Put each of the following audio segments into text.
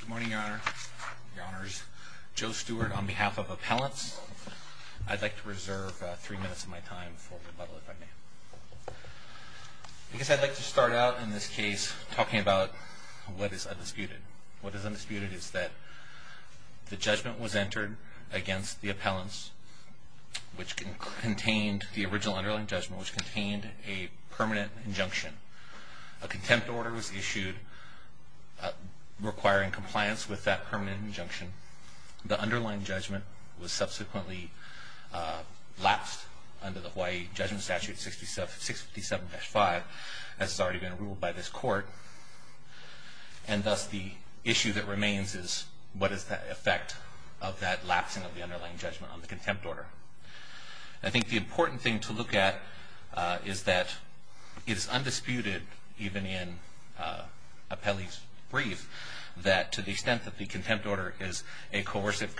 Good morning, Your Honor. Your Honor's Joe Stewart on behalf of appellants. I'd like to reserve three minutes of my time for rebuttal, if I may. I guess I'd like to start out in this case talking about what is undisputed. What is undisputed is that the judgment was entered against the appellants, which contained the original underlying judgment, which contained a permanent injunction. A contempt order was issued requiring compliance with that permanent injunction. The underlying judgment was subsequently lapsed under the Hawaii Judgment Statute 657-5, as has already been ruled by this court. And thus, the issue that remains is, what is the effect of that lapsing of the underlying judgment on the contempt order? I think the important thing to look at is that it is undisputed, even in appellee's brief, that to the extent that the contempt order is a coercive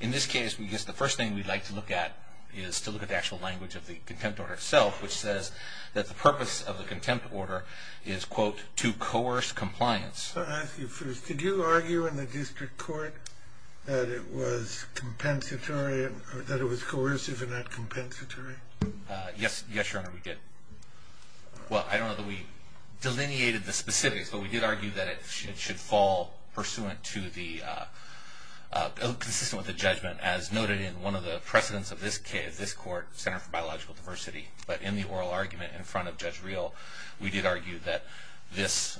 In this case, I guess the first thing we'd like to look at is to look at the actual language of the contempt order itself, which says that the purpose of the contempt order is, quote, to coerce compliance. Did you argue in the district court that it was coercive and not compensatory? Yes, Your Honor, we did. Well, I don't know that we delineated the specifics, but we did argue that it should fall pursuant to the, consistent with the judgment, as noted in one of the precedents of this court, Center for Biological Diversity. But in the oral argument in front of Judge Reel, we did argue that this,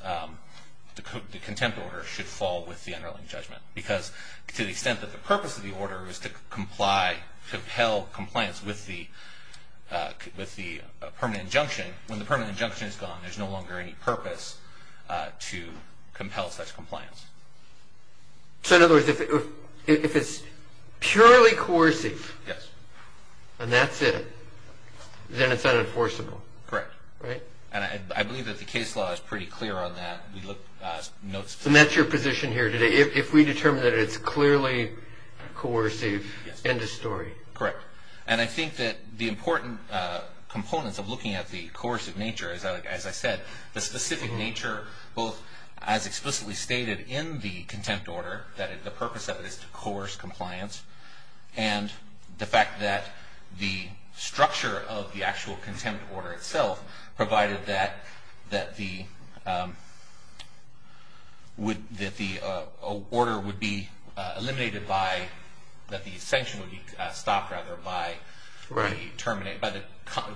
the contempt order, should fall with the underlying judgment. Because to the extent that the purpose of the order is to comply, to compel compliance with the permanent injunction, when the permanent injunction is gone, there's no longer any purpose to compel such compliance. So in other words, if it's purely coercive, and that's it, then it's unenforceable. Correct. And I believe that the case law is pretty clear on that. And that's your position here today. If we determine that it's clearly coercive, end of story. Correct. And I think that the important components of looking at the coercive nature, as I said, the specific nature, both as explicitly stated in the original contempt order itself, provided that the order would be eliminated by, that the sanction would be stopped, rather, by the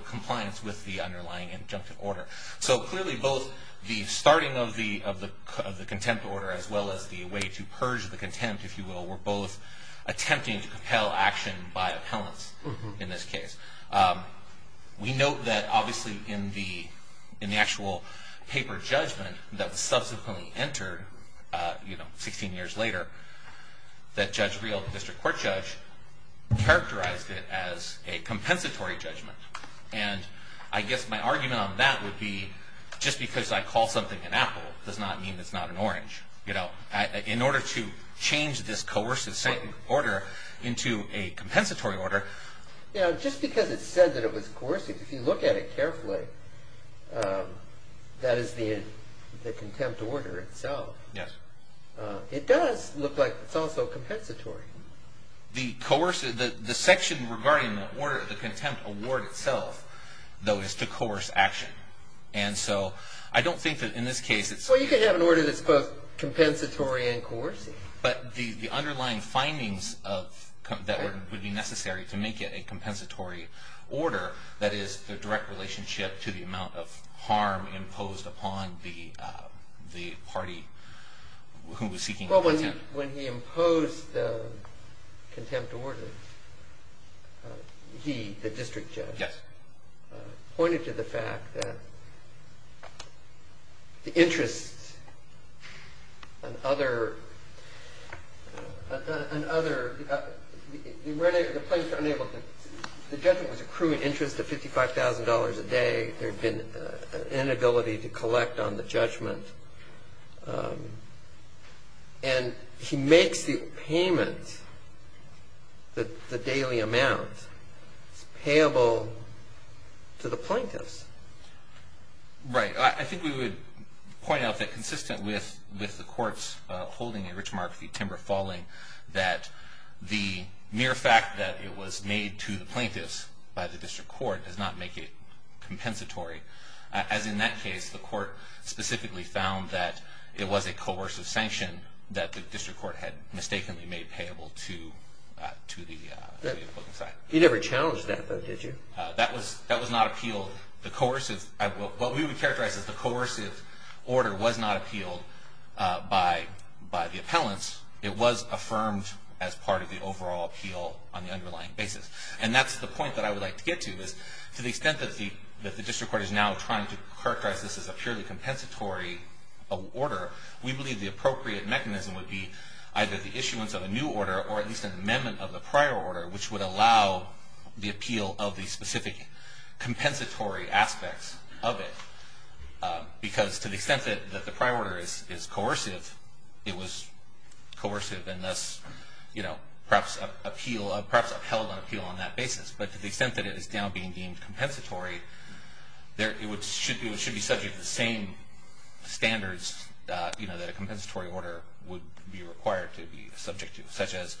compliance with the underlying injunction order. So clearly both the starting of the contempt order, as well as the way to purge the contempt, if you will, were both in the actual paper judgment that was subsequently entered, you know, 16 years later, that Judge Reel, the district court judge, characterized it as a compensatory judgment. And I guess my argument on that would be, just because I call something an apple, does not mean it's not an orange. You know, in order to change this coercive sanction order into a compensatory order... You know, just because it said that it was coercive, if you look at it carefully, that is the contempt order itself. Yes. It does look like it's also compensatory. The section regarding the order, the contempt award itself, though, is to coerce action. And so I don't think that in this case it's... Well, you can have an order that's both compensatory and coercive. But the underlying findings that would be necessary to make it a compensatory order, that is the direct relationship to the amount of harm imposed upon the party who was seeking contempt. When he imposed the contempt order, he, the district judge... Yes. ...pointed to the fact that the interest and other... The plaintiff was unable to... The judgment was accruing interest of $55,000 a day. There had been an inability to collect on the judgment. And he makes the payment, the daily amount, payable to the plaintiffs. Right. I think we would point out that consistent with the courts holding a rich mark of the timber falling, that the mere fact that it was made to the plaintiffs by the district court does not make it compensatory. As in that case, the court specifically found that it was a coercive sanction that the district court had mistakenly made payable to the... You never challenged that, though, did you? That was not appealed. The coercive... What we would characterize as the coercive order was not appealed by the appellants. It was affirmed as part of the overall appeal on the underlying basis. And that's the point that I would like to get to, is to the extent that the district court is now trying to characterize this as a purely compensatory order, we believe the appropriate mechanism would be either the issuance of a new order or at least an amendment of the prior order, which would allow the appeal of the specific compensatory aspects of it. Because to the extent that the prior order is coercive, it was coercive and thus perhaps upheld on appeal on that basis. But to the extent that it is now being deemed compensatory, it should be subject to the same standards that a compensatory order would be required to be subject to, such as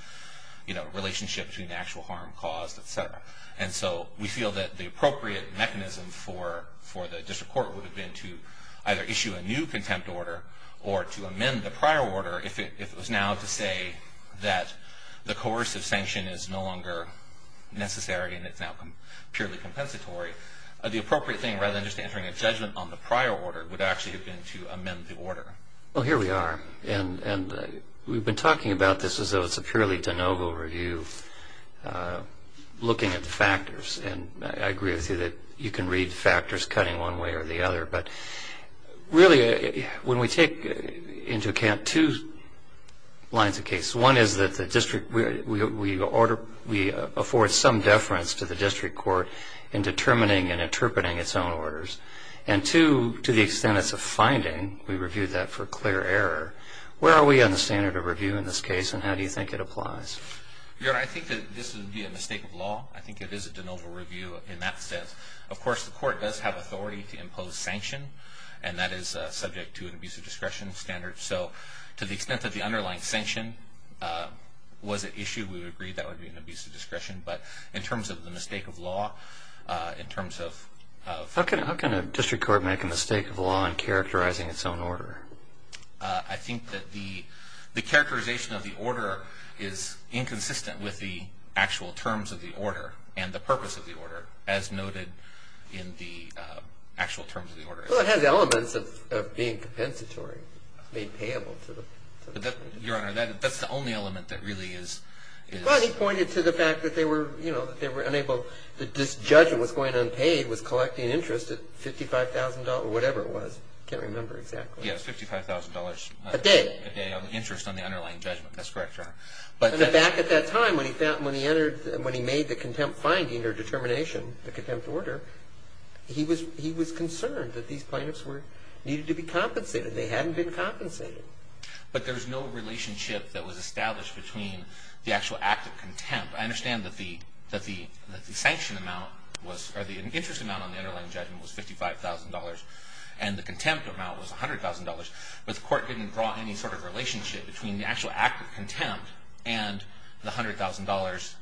a relationship between the actual harm caused, et cetera. And so we feel that the appropriate mechanism for the district court would have been to either issue a new contempt order or to amend the prior order if it was now to say that the coercive sanction is no longer necessary and it's now purely compensatory. The appropriate thing, rather than just entering a judgment on the prior order, would actually have been to amend the order. Well, here we are. And we've been talking about this as though it's a purely de novo review, looking at the factors. And I agree with you that you can read factors cutting one way or the other. But really, when we take into account two lines of case, one is that the district, we afford some deference to the district court in determining and interpreting its own orders. And two, to the extent it's a finding, we review that for clear error. Where are we on the standard of review in this case, and how do you think it applies? Your Honor, I think that this would be a mistake of law. I think it is a de novo review in that sense. Of course, the court does have authority to impose sanction, and that is subject to an abuse of discretion standard. So to the extent that the underlying sanction was at issue, we would agree that would be an abuse of discretion. But in terms of the mistake of law, in terms of ---- How can a district court make a mistake of law in characterizing its own order? I think that the characterization of the order is inconsistent with the actual terms of the order and the purpose of the order, as noted in the actual terms of the order. Well, it has elements of being compensatory. It's made payable to the district. Your Honor, that's the only element that really is ---- Well, he pointed to the fact that they were unable ---- that this judgment was going unpaid, was collecting interest at $55,000 or whatever it was. I can't remember exactly. Yes, $55,000. A day. A day of interest on the underlying judgment. That's correct, Your Honor. Back at that time when he made the contempt finding or determination, the contempt order, he was concerned that these plaintiffs needed to be compensated. They hadn't been compensated. But there's no relationship that was established between the actual act of contempt. I understand that the sanction amount was or the interest amount on the underlying judgment was $55,000 and the contempt amount was $100,000, but the court didn't draw any sort of relationship between the actual act of contempt and the $100,000.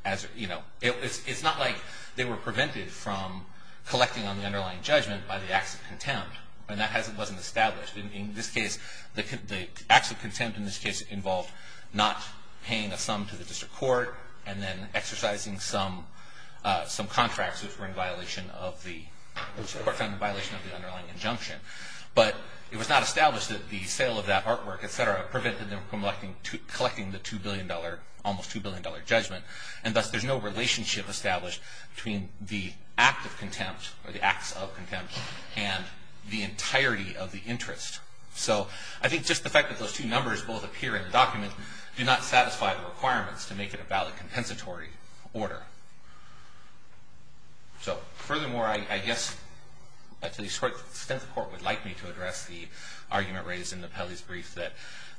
It's not like they were prevented from collecting on the underlying judgment by the acts of contempt, and that wasn't established. In this case, the acts of contempt in this case involved not paying a sum to the district court and then exercising some contracts which were in violation of the underlying injunction. But it was not established that the sale of that artwork, et cetera, prevented them from collecting the $2 billion, almost $2 billion judgment, and thus there's no relationship established between the act of contempt or the acts of contempt and the entirety of the interest. So I think just the fact that those two numbers both appear in the document do not satisfy the requirements to make it a valid compensatory order. So furthermore, I guess to the extent the court would like me to address the argument raised in the Pelley's brief that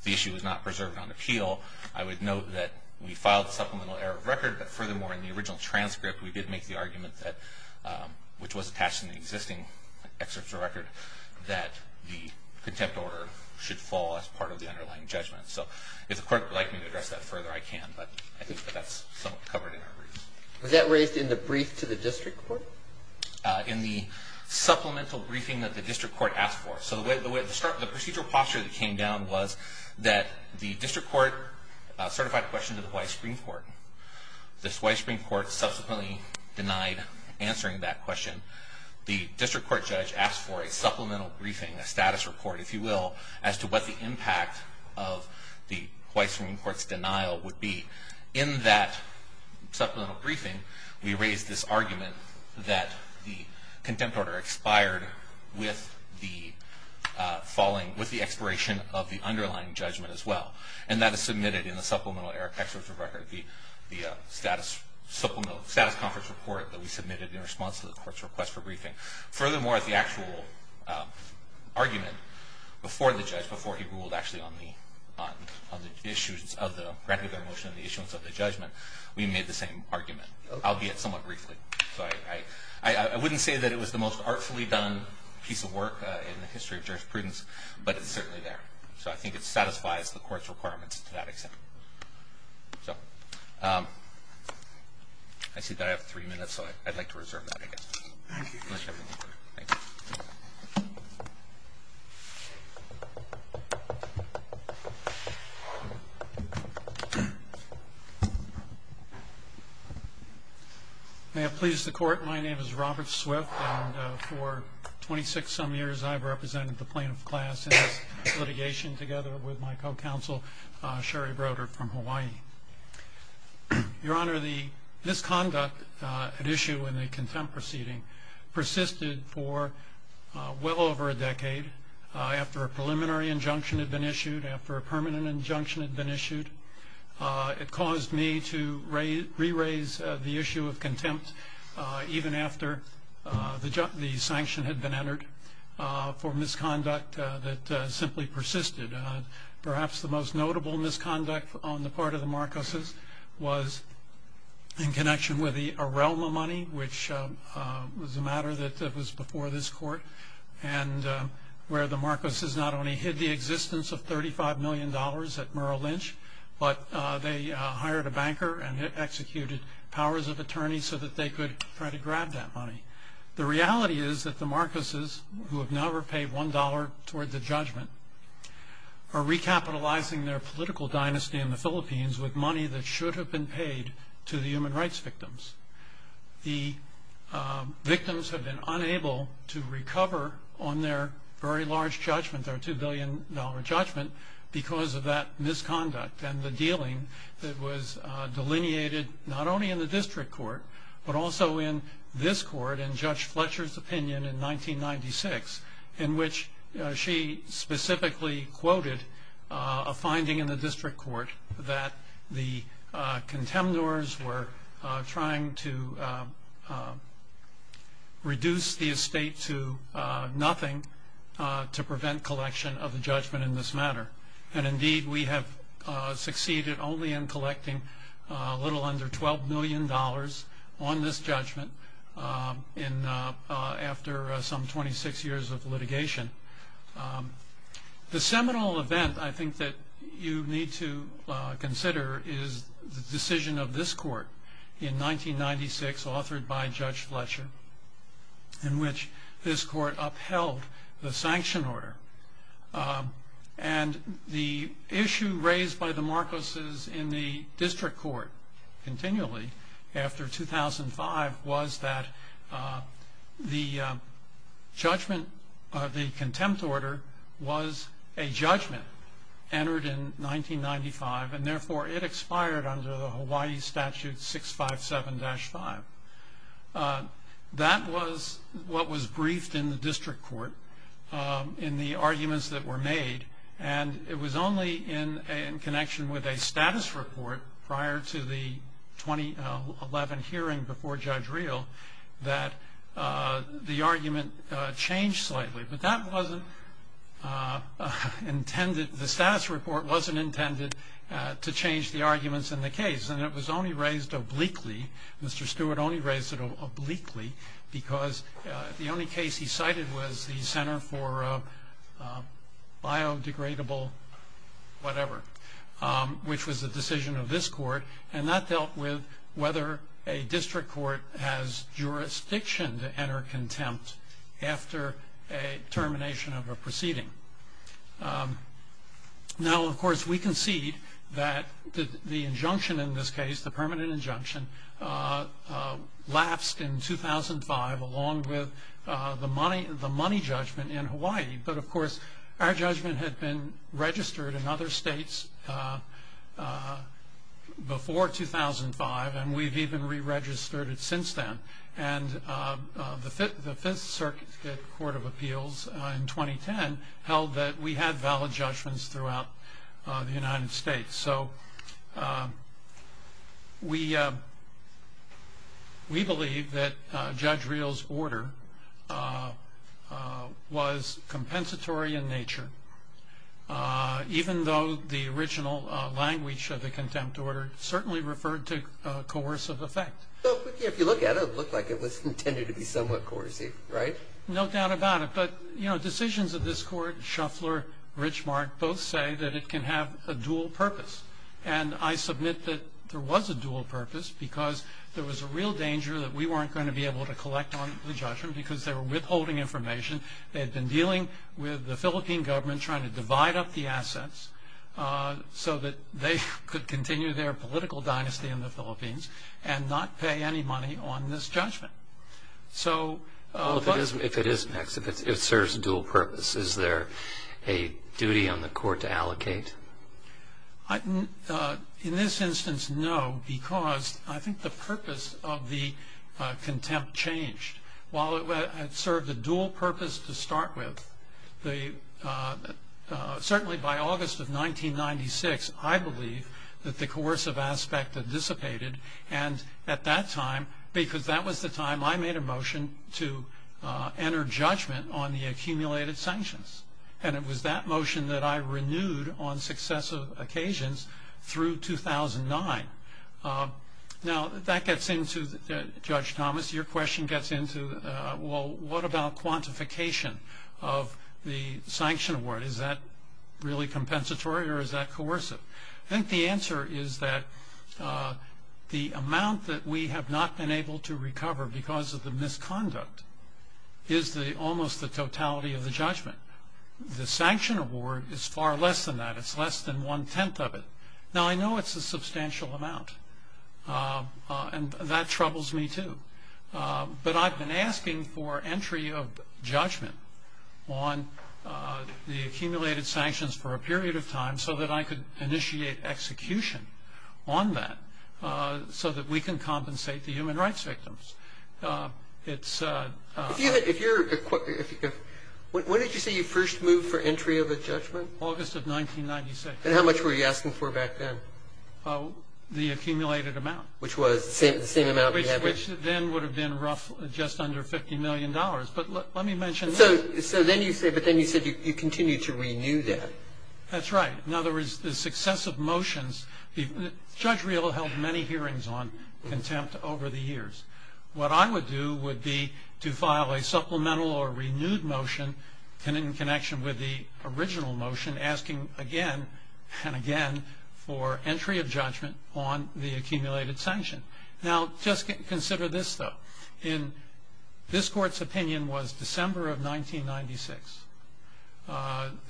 the issue was not preserved on appeal, I would note that we filed supplemental error of record, but furthermore in the original transcript we did make the argument that, which was attached in the existing excerpts of record, that the contempt order should fall as part of the underlying judgment. So if the court would like me to address that further, I can, but I think that that's somewhat covered in our brief. Was that raised in the brief to the district court? In the supplemental briefing that the district court asked for. This White Supreme Court subsequently denied answering that question. The district court judge asked for a supplemental briefing, a status report if you will, as to what the impact of the White Supreme Court's denial would be. In that supplemental briefing we raised this argument that the contempt order expired with the expiration of the underlying judgment as well. And that is submitted in the supplemental error excerpt of record, the status conference report that we submitted in response to the court's request for briefing. Furthermore, the actual argument before the judge, before he ruled actually on the issues of the granted motion and the issues of the judgment, we made the same argument, albeit somewhat briefly. So I wouldn't say that it was the most artfully done piece of work in the history of jurisprudence, but it's certainly there. So I think it satisfies the court's requirements to that extent. I see that I have three minutes, so I'd like to reserve that I guess. Thank you. May it please the court, my name is Robert Swift, and for 26 some years I've represented the plaintiff class in this litigation together with my co-counsel Sherry Broder from Hawaii. Your Honor, the misconduct at issue in the contempt proceeding persisted for well over a decade. After a preliminary injunction had been issued, after a permanent injunction had been issued, it caused me to re-raise the issue of contempt even after the sanction had been entered for misconduct that simply persisted. Perhaps the most notable misconduct on the part of the Marcoses was in connection with the Arelma money, which was a matter that was before this court, and where the Marcoses not only hid the existence of $35 million at Merrill Lynch, but they hired a banker and executed powers of attorney so that they could try to grab that money. The reality is that the Marcoses, who have never paid $1 toward the judgment, are recapitalizing their political dynasty in the Philippines with money that should have been paid to the human rights victims. The victims have been unable to recover on their very large judgment, their $2 billion judgment, because of that misconduct and the dealing that was delineated not only in the district court, but also in this court in Judge Fletcher's opinion in 1996, in which she specifically quoted a finding in the district court that the contemptors were trying to reduce the estate to nothing to prevent collection of the judgment in this matter. And indeed, we have succeeded only in collecting a little under $12 million on this judgment after some 26 years of litigation. The seminal event, I think, that you need to consider is the decision of this court in 1996, authored by Judge Fletcher, in which this court upheld the sanction order. And the issue raised by the Marcoses in the district court continually after 2005 was that the contempt order was a judgment entered in 1995, and therefore it expired under the Hawaii Statute 657-5. That was what was briefed in the district court in the arguments that were made, and it was only in connection with a status report prior to the 2011 hearing before Judge Reel that the argument changed slightly. But the status report wasn't intended to change the arguments in the case, and it was only raised obliquely, Mr. Stewart only raised it obliquely, because the only case he cited was the Center for Biodegradable Whatever, which was the decision of this court, and that dealt with whether a district court has jurisdiction to enter contempt after a termination of a proceeding. Now, of course, we concede that the injunction in this case, the permanent injunction, lapsed in 2005 along with the money judgment in Hawaii. But, of course, our judgment had been registered in other states before 2005, and we've even re-registered it since then. And the Fifth Circuit Court of Appeals in 2010 held that we had valid judgments throughout the United States. So we believe that Judge Reel's order was compensatory in nature, even though the original language of the contempt order certainly referred to coercive effect. If you look at it, it looked like it was intended to be somewhat coercive, right? No doubt about it. But, you know, decisions of this court, Shuffler, Richmark, both say that it can have a dual purpose. And I submit that there was a dual purpose, because there was a real danger that we weren't going to be able to collect on the judgment, because they were withholding information. They had been dealing with the Philippine government trying to divide up the assets so that they could continue their political dynasty in the Philippines and not pay any money on this judgment. Well, if it serves a dual purpose, is there a duty on the court to allocate? In this instance, no, because I think the purpose of the contempt changed. While it served a dual purpose to start with, certainly by August of 1996, I believe that the coercive aspect had dissipated. And at that time, because that was the time I made a motion to enter judgment on the accumulated sanctions, and it was that motion that I renewed on successive occasions through 2009. Now, that gets into, Judge Thomas, your question gets into, well, what about quantification of the sanction award? Is that really compensatory or is that coercive? I think the answer is that the amount that we have not been able to recover because of the misconduct is almost the totality of the judgment. The sanction award is far less than that. It's less than one-tenth of it. Now, I know it's a substantial amount, and that troubles me, too. But I've been asking for entry of judgment on the accumulated sanctions for a period of time so that I could initiate execution on that so that we can compensate the human rights victims. When did you say you first moved for entry of a judgment? August of 1996. And how much were you asking for back then? The accumulated amount. Which was the same amount we have here. Which then would have been roughly just under $50 million. But let me mention that. But then you said you continued to renew that. That's right. In other words, the success of motions. Judge Reel held many hearings on contempt over the years. What I would do would be to file a supplemental or renewed motion in connection with the original motion asking again and again for entry of judgment on the accumulated sanction. Now, just consider this, though. This court's opinion was December of 1996,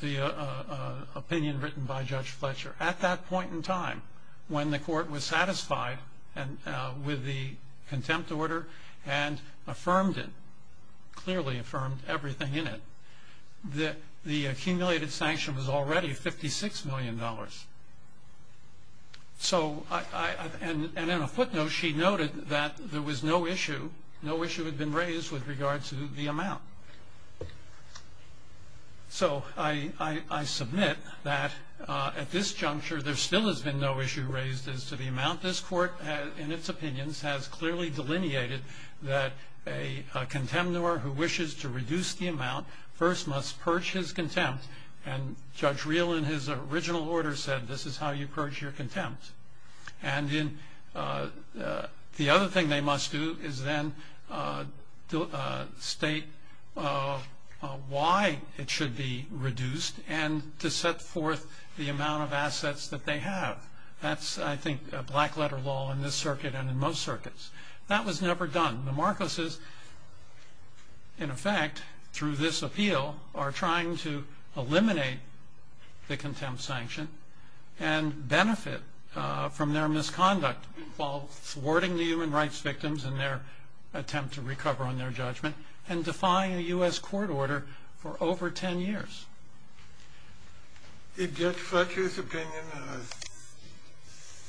the opinion written by Judge Fletcher. At that point in time, when the court was satisfied with the contempt order and affirmed it, clearly affirmed everything in it, the accumulated sanction was already $56 million. And in a footnote, she noted that there was no issue. No issue had been raised with regard to the amount. So I submit that at this juncture, there still has been no issue raised as to the amount. This court, in its opinions, has clearly delineated that a contemnor who wishes to reduce the amount first must purge his contempt, and Judge Reel, in his original order, said this is how you purge your contempt. And the other thing they must do is then state why it should be reduced and to set forth the amount of assets that they have. That's, I think, black-letter law in this circuit and in most circuits. That was never done. The Marcoses, in effect, through this appeal, are trying to eliminate the contempt sanction and benefit from their misconduct while thwarting the human rights victims in their attempt to recover on their judgment and defying a U.S. court order for over 10 years. Did Judge Fletcher's opinion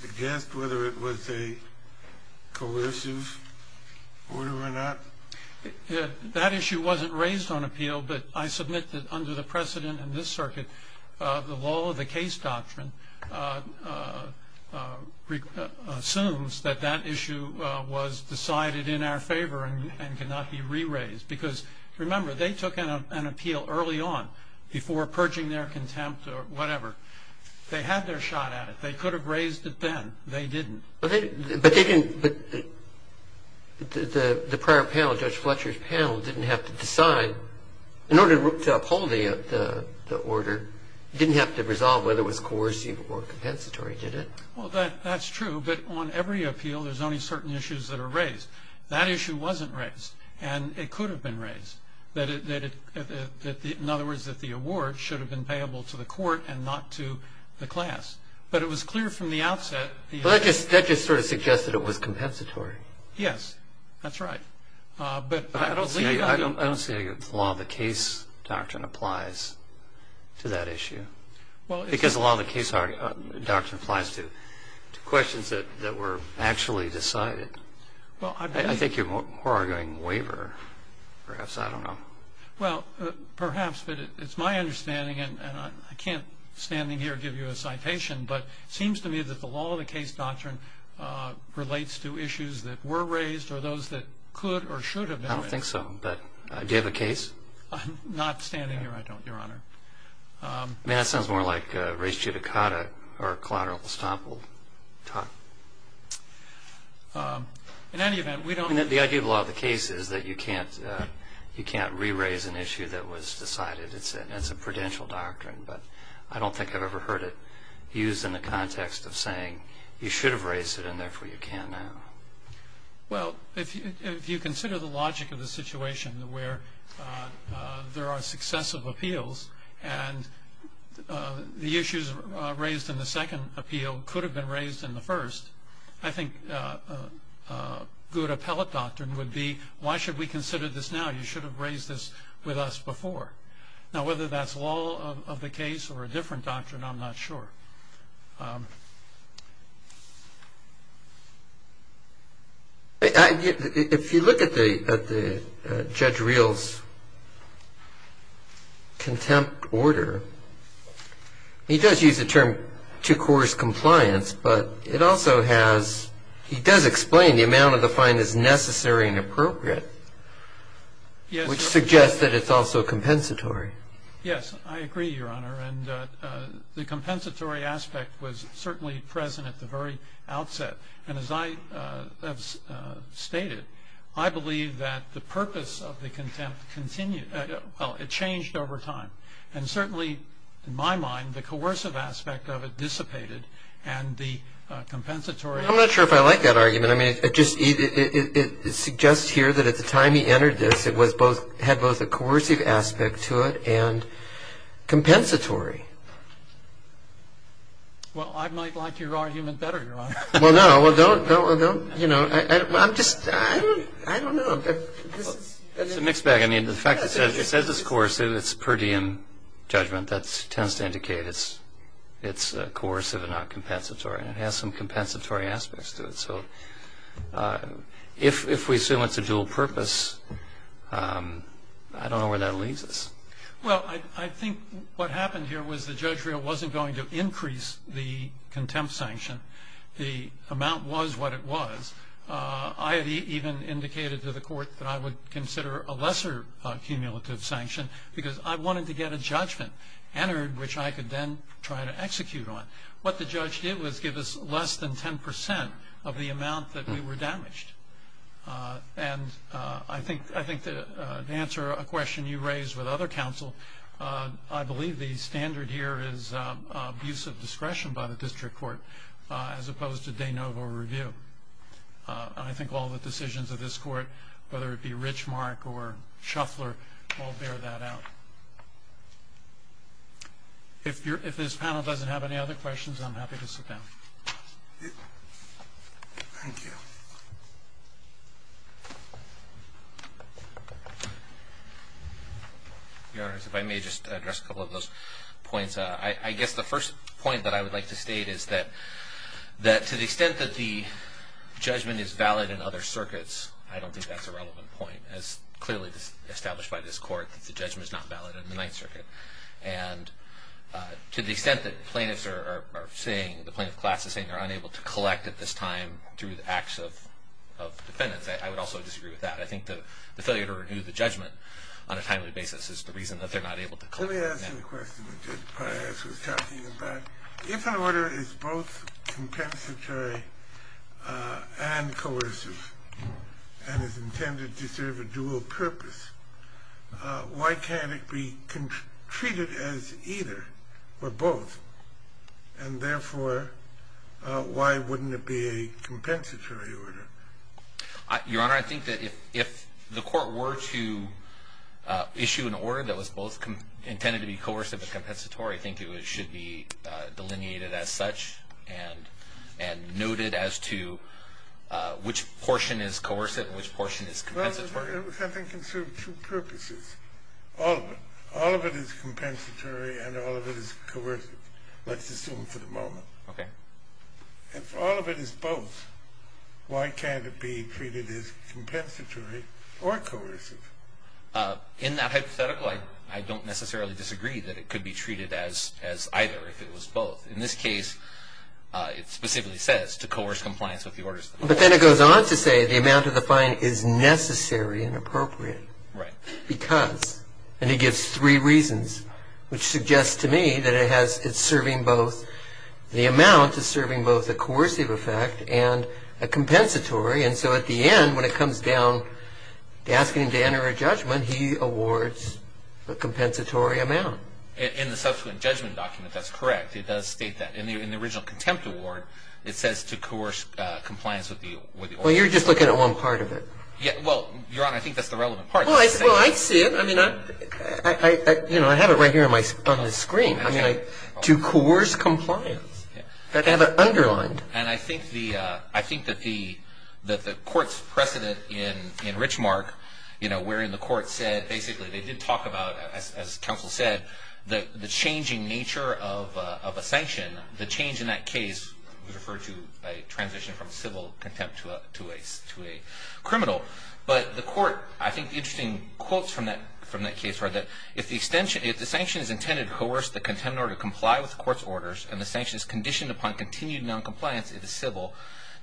suggest whether it was a coercive order or not? That issue wasn't raised on appeal, but I submit that under the precedent in this circuit, the law of the case doctrine assumes that that issue was decided in our favor and cannot be re-raised. Because, remember, they took an appeal early on before purging their contempt or whatever. They had their shot at it. They could have raised it then. They didn't. But the prior panel, Judge Fletcher's panel, didn't have to decide, in order to uphold the order, didn't have to resolve whether it was coercive or compensatory, did it? Well, that's true, but on every appeal there's only certain issues that are raised. That issue wasn't raised, and it could have been raised. In other words, that the award should have been payable to the court and not to the class. But it was clear from the outset. But that just sort of suggests that it was compensatory. Yes, that's right. But I don't see how the law of the case doctrine applies to that issue. Because the law of the case doctrine applies to questions that were actually decided. I think you're more arguing waiver, perhaps. I don't know. Well, perhaps, but it's my understanding, and I can't, standing here, give you a citation, but it seems to me that the law of the case doctrine relates to issues that were raised or those that could or should have been raised. I don't think so. Do you have a case? I'm not standing here. I don't, Your Honor. I mean, that sounds more like res judicata or collateral estoppel. In any event, we don't. The idea of law of the case is that you can't re-raise an issue that was decided. It's a prudential doctrine, but I don't think I've ever heard it used in the context of saying you should have raised it and, therefore, you can't now. Well, if you consider the logic of the situation where there are successive appeals and the issues raised in the second appeal could have been raised in the first, I think a good appellate doctrine would be why should we consider this now? You should have raised this with us before. Now, whether that's law of the case or a different doctrine, I'm not sure. If you look at Judge Reill's contempt order, he does use the term two-course compliance, but it also has he does explain the amount of the fine is necessary and appropriate, which suggests that it's also compensatory. Yes, I agree, Your Honor. And the compensatory aspect was certainly present at the very outset. And, as I have stated, I believe that the purpose of the contempt continued. Well, it changed over time. And, certainly, in my mind, the coercive aspect of it dissipated and the compensatory. I'm not sure if I like that argument. I mean, it suggests here that at the time he entered this, it had both a coercive aspect to it and compensatory. Well, I might like your argument better, Your Honor. Well, no, don't, you know. I'm just, I don't know. It's a mixed bag. I mean, the fact that it says it's coercive, it's per diem judgment. That tends to indicate it's coercive and not compensatory. And it has some compensatory aspects to it. So if we assume it's a dual purpose, I don't know where that leaves us. Well, I think what happened here was that Judge Reill wasn't going to increase the contempt sanction. The amount was what it was. I even indicated to the court that I would consider a lesser cumulative sanction because I wanted to get a judgment entered, which I could then try to execute on. What the judge did was give us less than 10% of the amount that we were damaged. And I think to answer a question you raised with other counsel, I believe the standard here is abuse of discretion by the district court as opposed to de novo review. I think all the decisions of this court, whether it be Richmark or Shuffler, all bear that out. If this panel doesn't have any other questions, I'm happy to sit down. Thank you. Your Honor, if I may just address a couple of those points. I guess the first point that I would like to state is that to the extent that the judgment is valid in other circuits, I don't think that's a relevant point. As clearly established by this court, the judgment is not valid in the Ninth Circuit. And to the extent that the plaintiffs are saying, the plaintiff class is saying, they're not able to collect at this time through the acts of defendants, I would also disagree with that. I think the failure to renew the judgment on a timely basis is the reason that they're not able to collect. Let me ask you a question that Judge Pius was talking about. If an order is both compensatory and coercive and is intended to serve a dual purpose, why can't it be treated as either or both? And therefore, why wouldn't it be a compensatory order? Your Honor, I think that if the court were to issue an order that was both intended to be coercive and compensatory, I think it should be delineated as such and noted as to which portion is coercive and which portion is compensatory. I think it can serve two purposes. All of it. All of it is compensatory and all of it is coercive, let's assume for the moment. Okay. If all of it is both, why can't it be treated as compensatory or coercive? In that hypothetical, I don't necessarily disagree that it could be treated as either if it was both. In this case, it specifically says to coerce compliance with the orders. But then it goes on to say the amount of the fine is necessary and appropriate. Right. Because, and he gives three reasons, which suggests to me that it has, it's serving both, the amount is serving both a coercive effect and a compensatory. And so at the end, when it comes down to asking him to enter a judgment, he awards a compensatory amount. In the subsequent judgment document, that's correct. It does state that. In the original contempt award, it says to coerce compliance with the order. Well, you're just looking at one part of it. Well, Your Honor, I think that's the relevant part. Well, I see it. I mean, I have it right here on the screen. I mean, to coerce compliance. I have it underlined. And I think that the court's precedent in Richmark, you know, wherein the court said basically, they did talk about, as counsel said, the changing nature of a sanction. The change in that case was referred to a transition from civil contempt to a criminal. But the court, I think the interesting quotes from that case were that if the sanction is intended to coerce the contempt order to comply with the court's orders and the sanction is conditioned upon continued noncompliance, it is civil,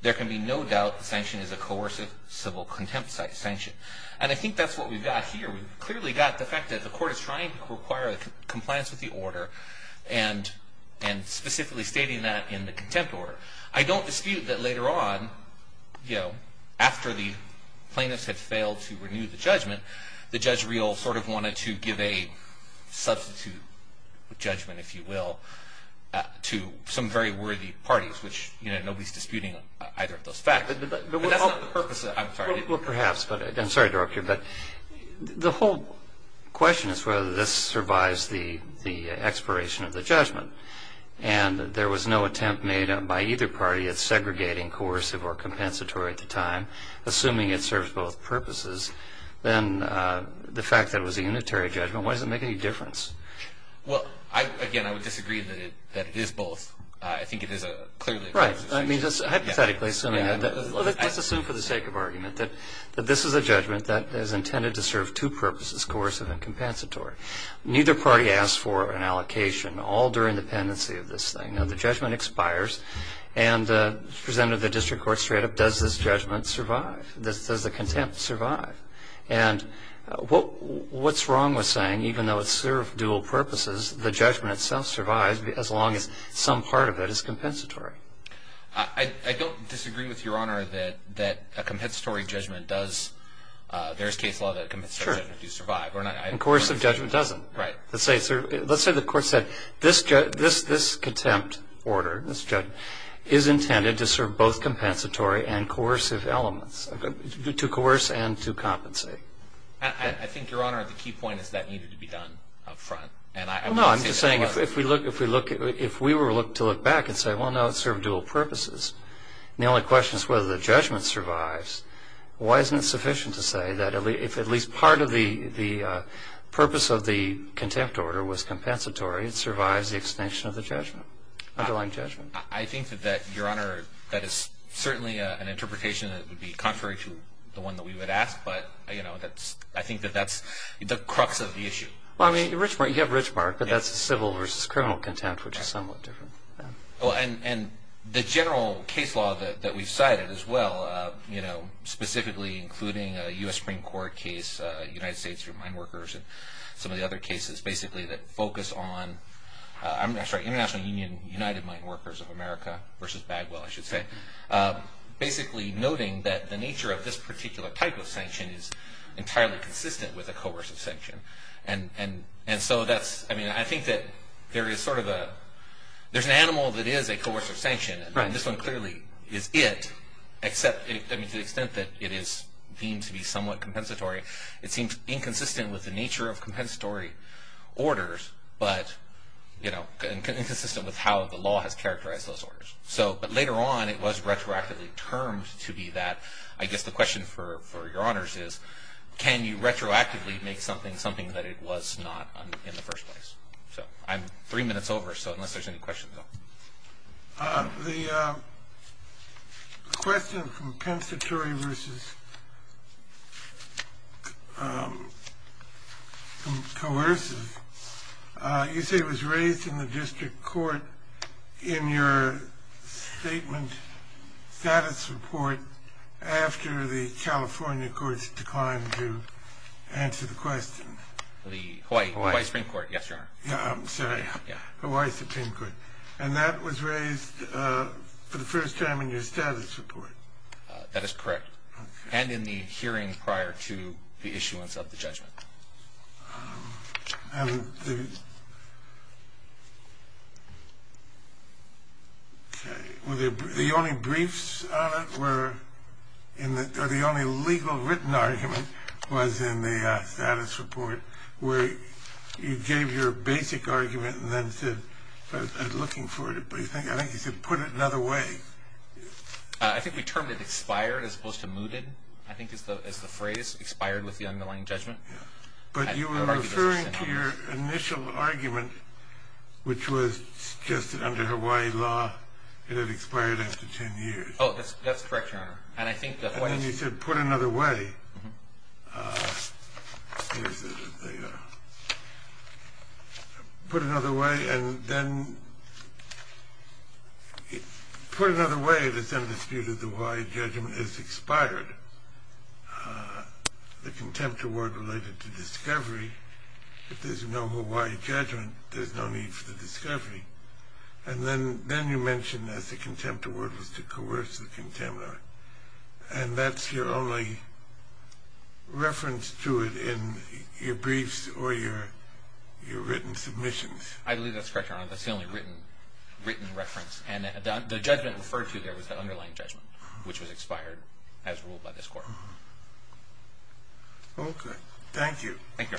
there can be no doubt the sanction is a coercive civil contempt sanction. And I think that's what we've got here. We've clearly got the fact that the court is trying to require compliance with the order and specifically stating that in the contempt order. I don't dispute that later on, you know, after the plaintiffs had failed to renew the judgment, the judge real sort of wanted to give a substitute judgment, if you will, to some very worthy parties, which, you know, nobody's disputing either of those facts. But that's not the purpose. I'm sorry. Well, perhaps. I'm sorry to interrupt you. But the whole question is whether this survives the expiration of the judgment. And there was no attempt made by either party at segregating coercive or compensatory at the time, assuming it serves both purposes. Then the fact that it was a unitary judgment, why does it make any difference? Well, again, I would disagree that it is both. I think it is clearly a coercive sanction. Right. But this is a judgment that is intended to serve two purposes, coercive and compensatory. Neither party asked for an allocation all during the pendency of this thing. Now, the judgment expires and presented to the district court straight up, does this judgment survive? Does the contempt survive? And what's wrong with saying even though it served dual purposes, the judgment itself survives as long as some part of it is compensatory? I don't disagree with Your Honor that a compensatory judgment does. There is case law that a compensatory judgment does survive. And coercive judgment doesn't. Right. Let's say the court said this contempt order, this judgment, is intended to serve both compensatory and coercive elements, to coerce and to compensate. I think, Your Honor, the key point is that needed to be done up front. No, I'm just saying if we were to look back and say, well, no, it served dual purposes, and the only question is whether the judgment survives, why isn't it sufficient to say that if at least part of the purpose of the contempt order was compensatory, it survives the extension of the judgment, underlying judgment? I think that, Your Honor, that is certainly an interpretation that would be contrary to the one that we would ask. But, you know, I think that that's the crux of the issue. Well, I mean, you have Richmark, but that's a civil versus criminal contempt, which is somewhat different. And the general case law that we've cited as well, you know, specifically including a U.S. Supreme Court case, United States Mine Workers, and some of the other cases basically that focus on, I'm sorry, International Union United Mine Workers of America versus Bagwell, I should say, basically noting that the nature of this particular type of sanction is entirely consistent with a coercive sanction. And so that's, I mean, I think that there is sort of a, there's an animal that is a coercive sanction, and this one clearly is it, except, I mean, to the extent that it is deemed to be somewhat compensatory, it seems inconsistent with the nature of compensatory orders, but, you know, inconsistent with how the law has characterized those orders. So, but later on, it was retroactively termed to be that. I guess the question for your honors is, can you retroactively make something something that it was not in the first place? So I'm three minutes over, so unless there's any questions. The question from compensatory versus coercive, you say it was raised in the district court in your statement status report after the California courts declined to answer the question. The Hawaii Supreme Court, yes, your honor. I'm sorry, Hawaii Supreme Court. And that was raised for the first time in your status report. That is correct. And in the hearing prior to the issuance of the judgment. And the only briefs on it were, or the only legal written argument was in the status report, where you gave your basic argument and then said, I was looking for it, but I think you said put it another way. I think we termed it expired as opposed to mooted, I think is the phrase, expired with the underlying judgment. But you were referring to your initial argument, which was just under Hawaii law, it had expired after 10 years. Oh, that's correct, your honor. And I think that's why you said put another way. Put another way, and then put another way, but it's understood that the Hawaii judgment is expired. The contempt award related to discovery, if there's no Hawaii judgment, there's no need for the discovery. And then you mentioned that the contempt award was to coerce the contaminant. And that's your only reference to it in your briefs or your written submissions. I believe that's correct, your honor. That's the only written reference. And the judgment referred to there was the underlying judgment, which was expired as ruled by this court. Okay, thank you.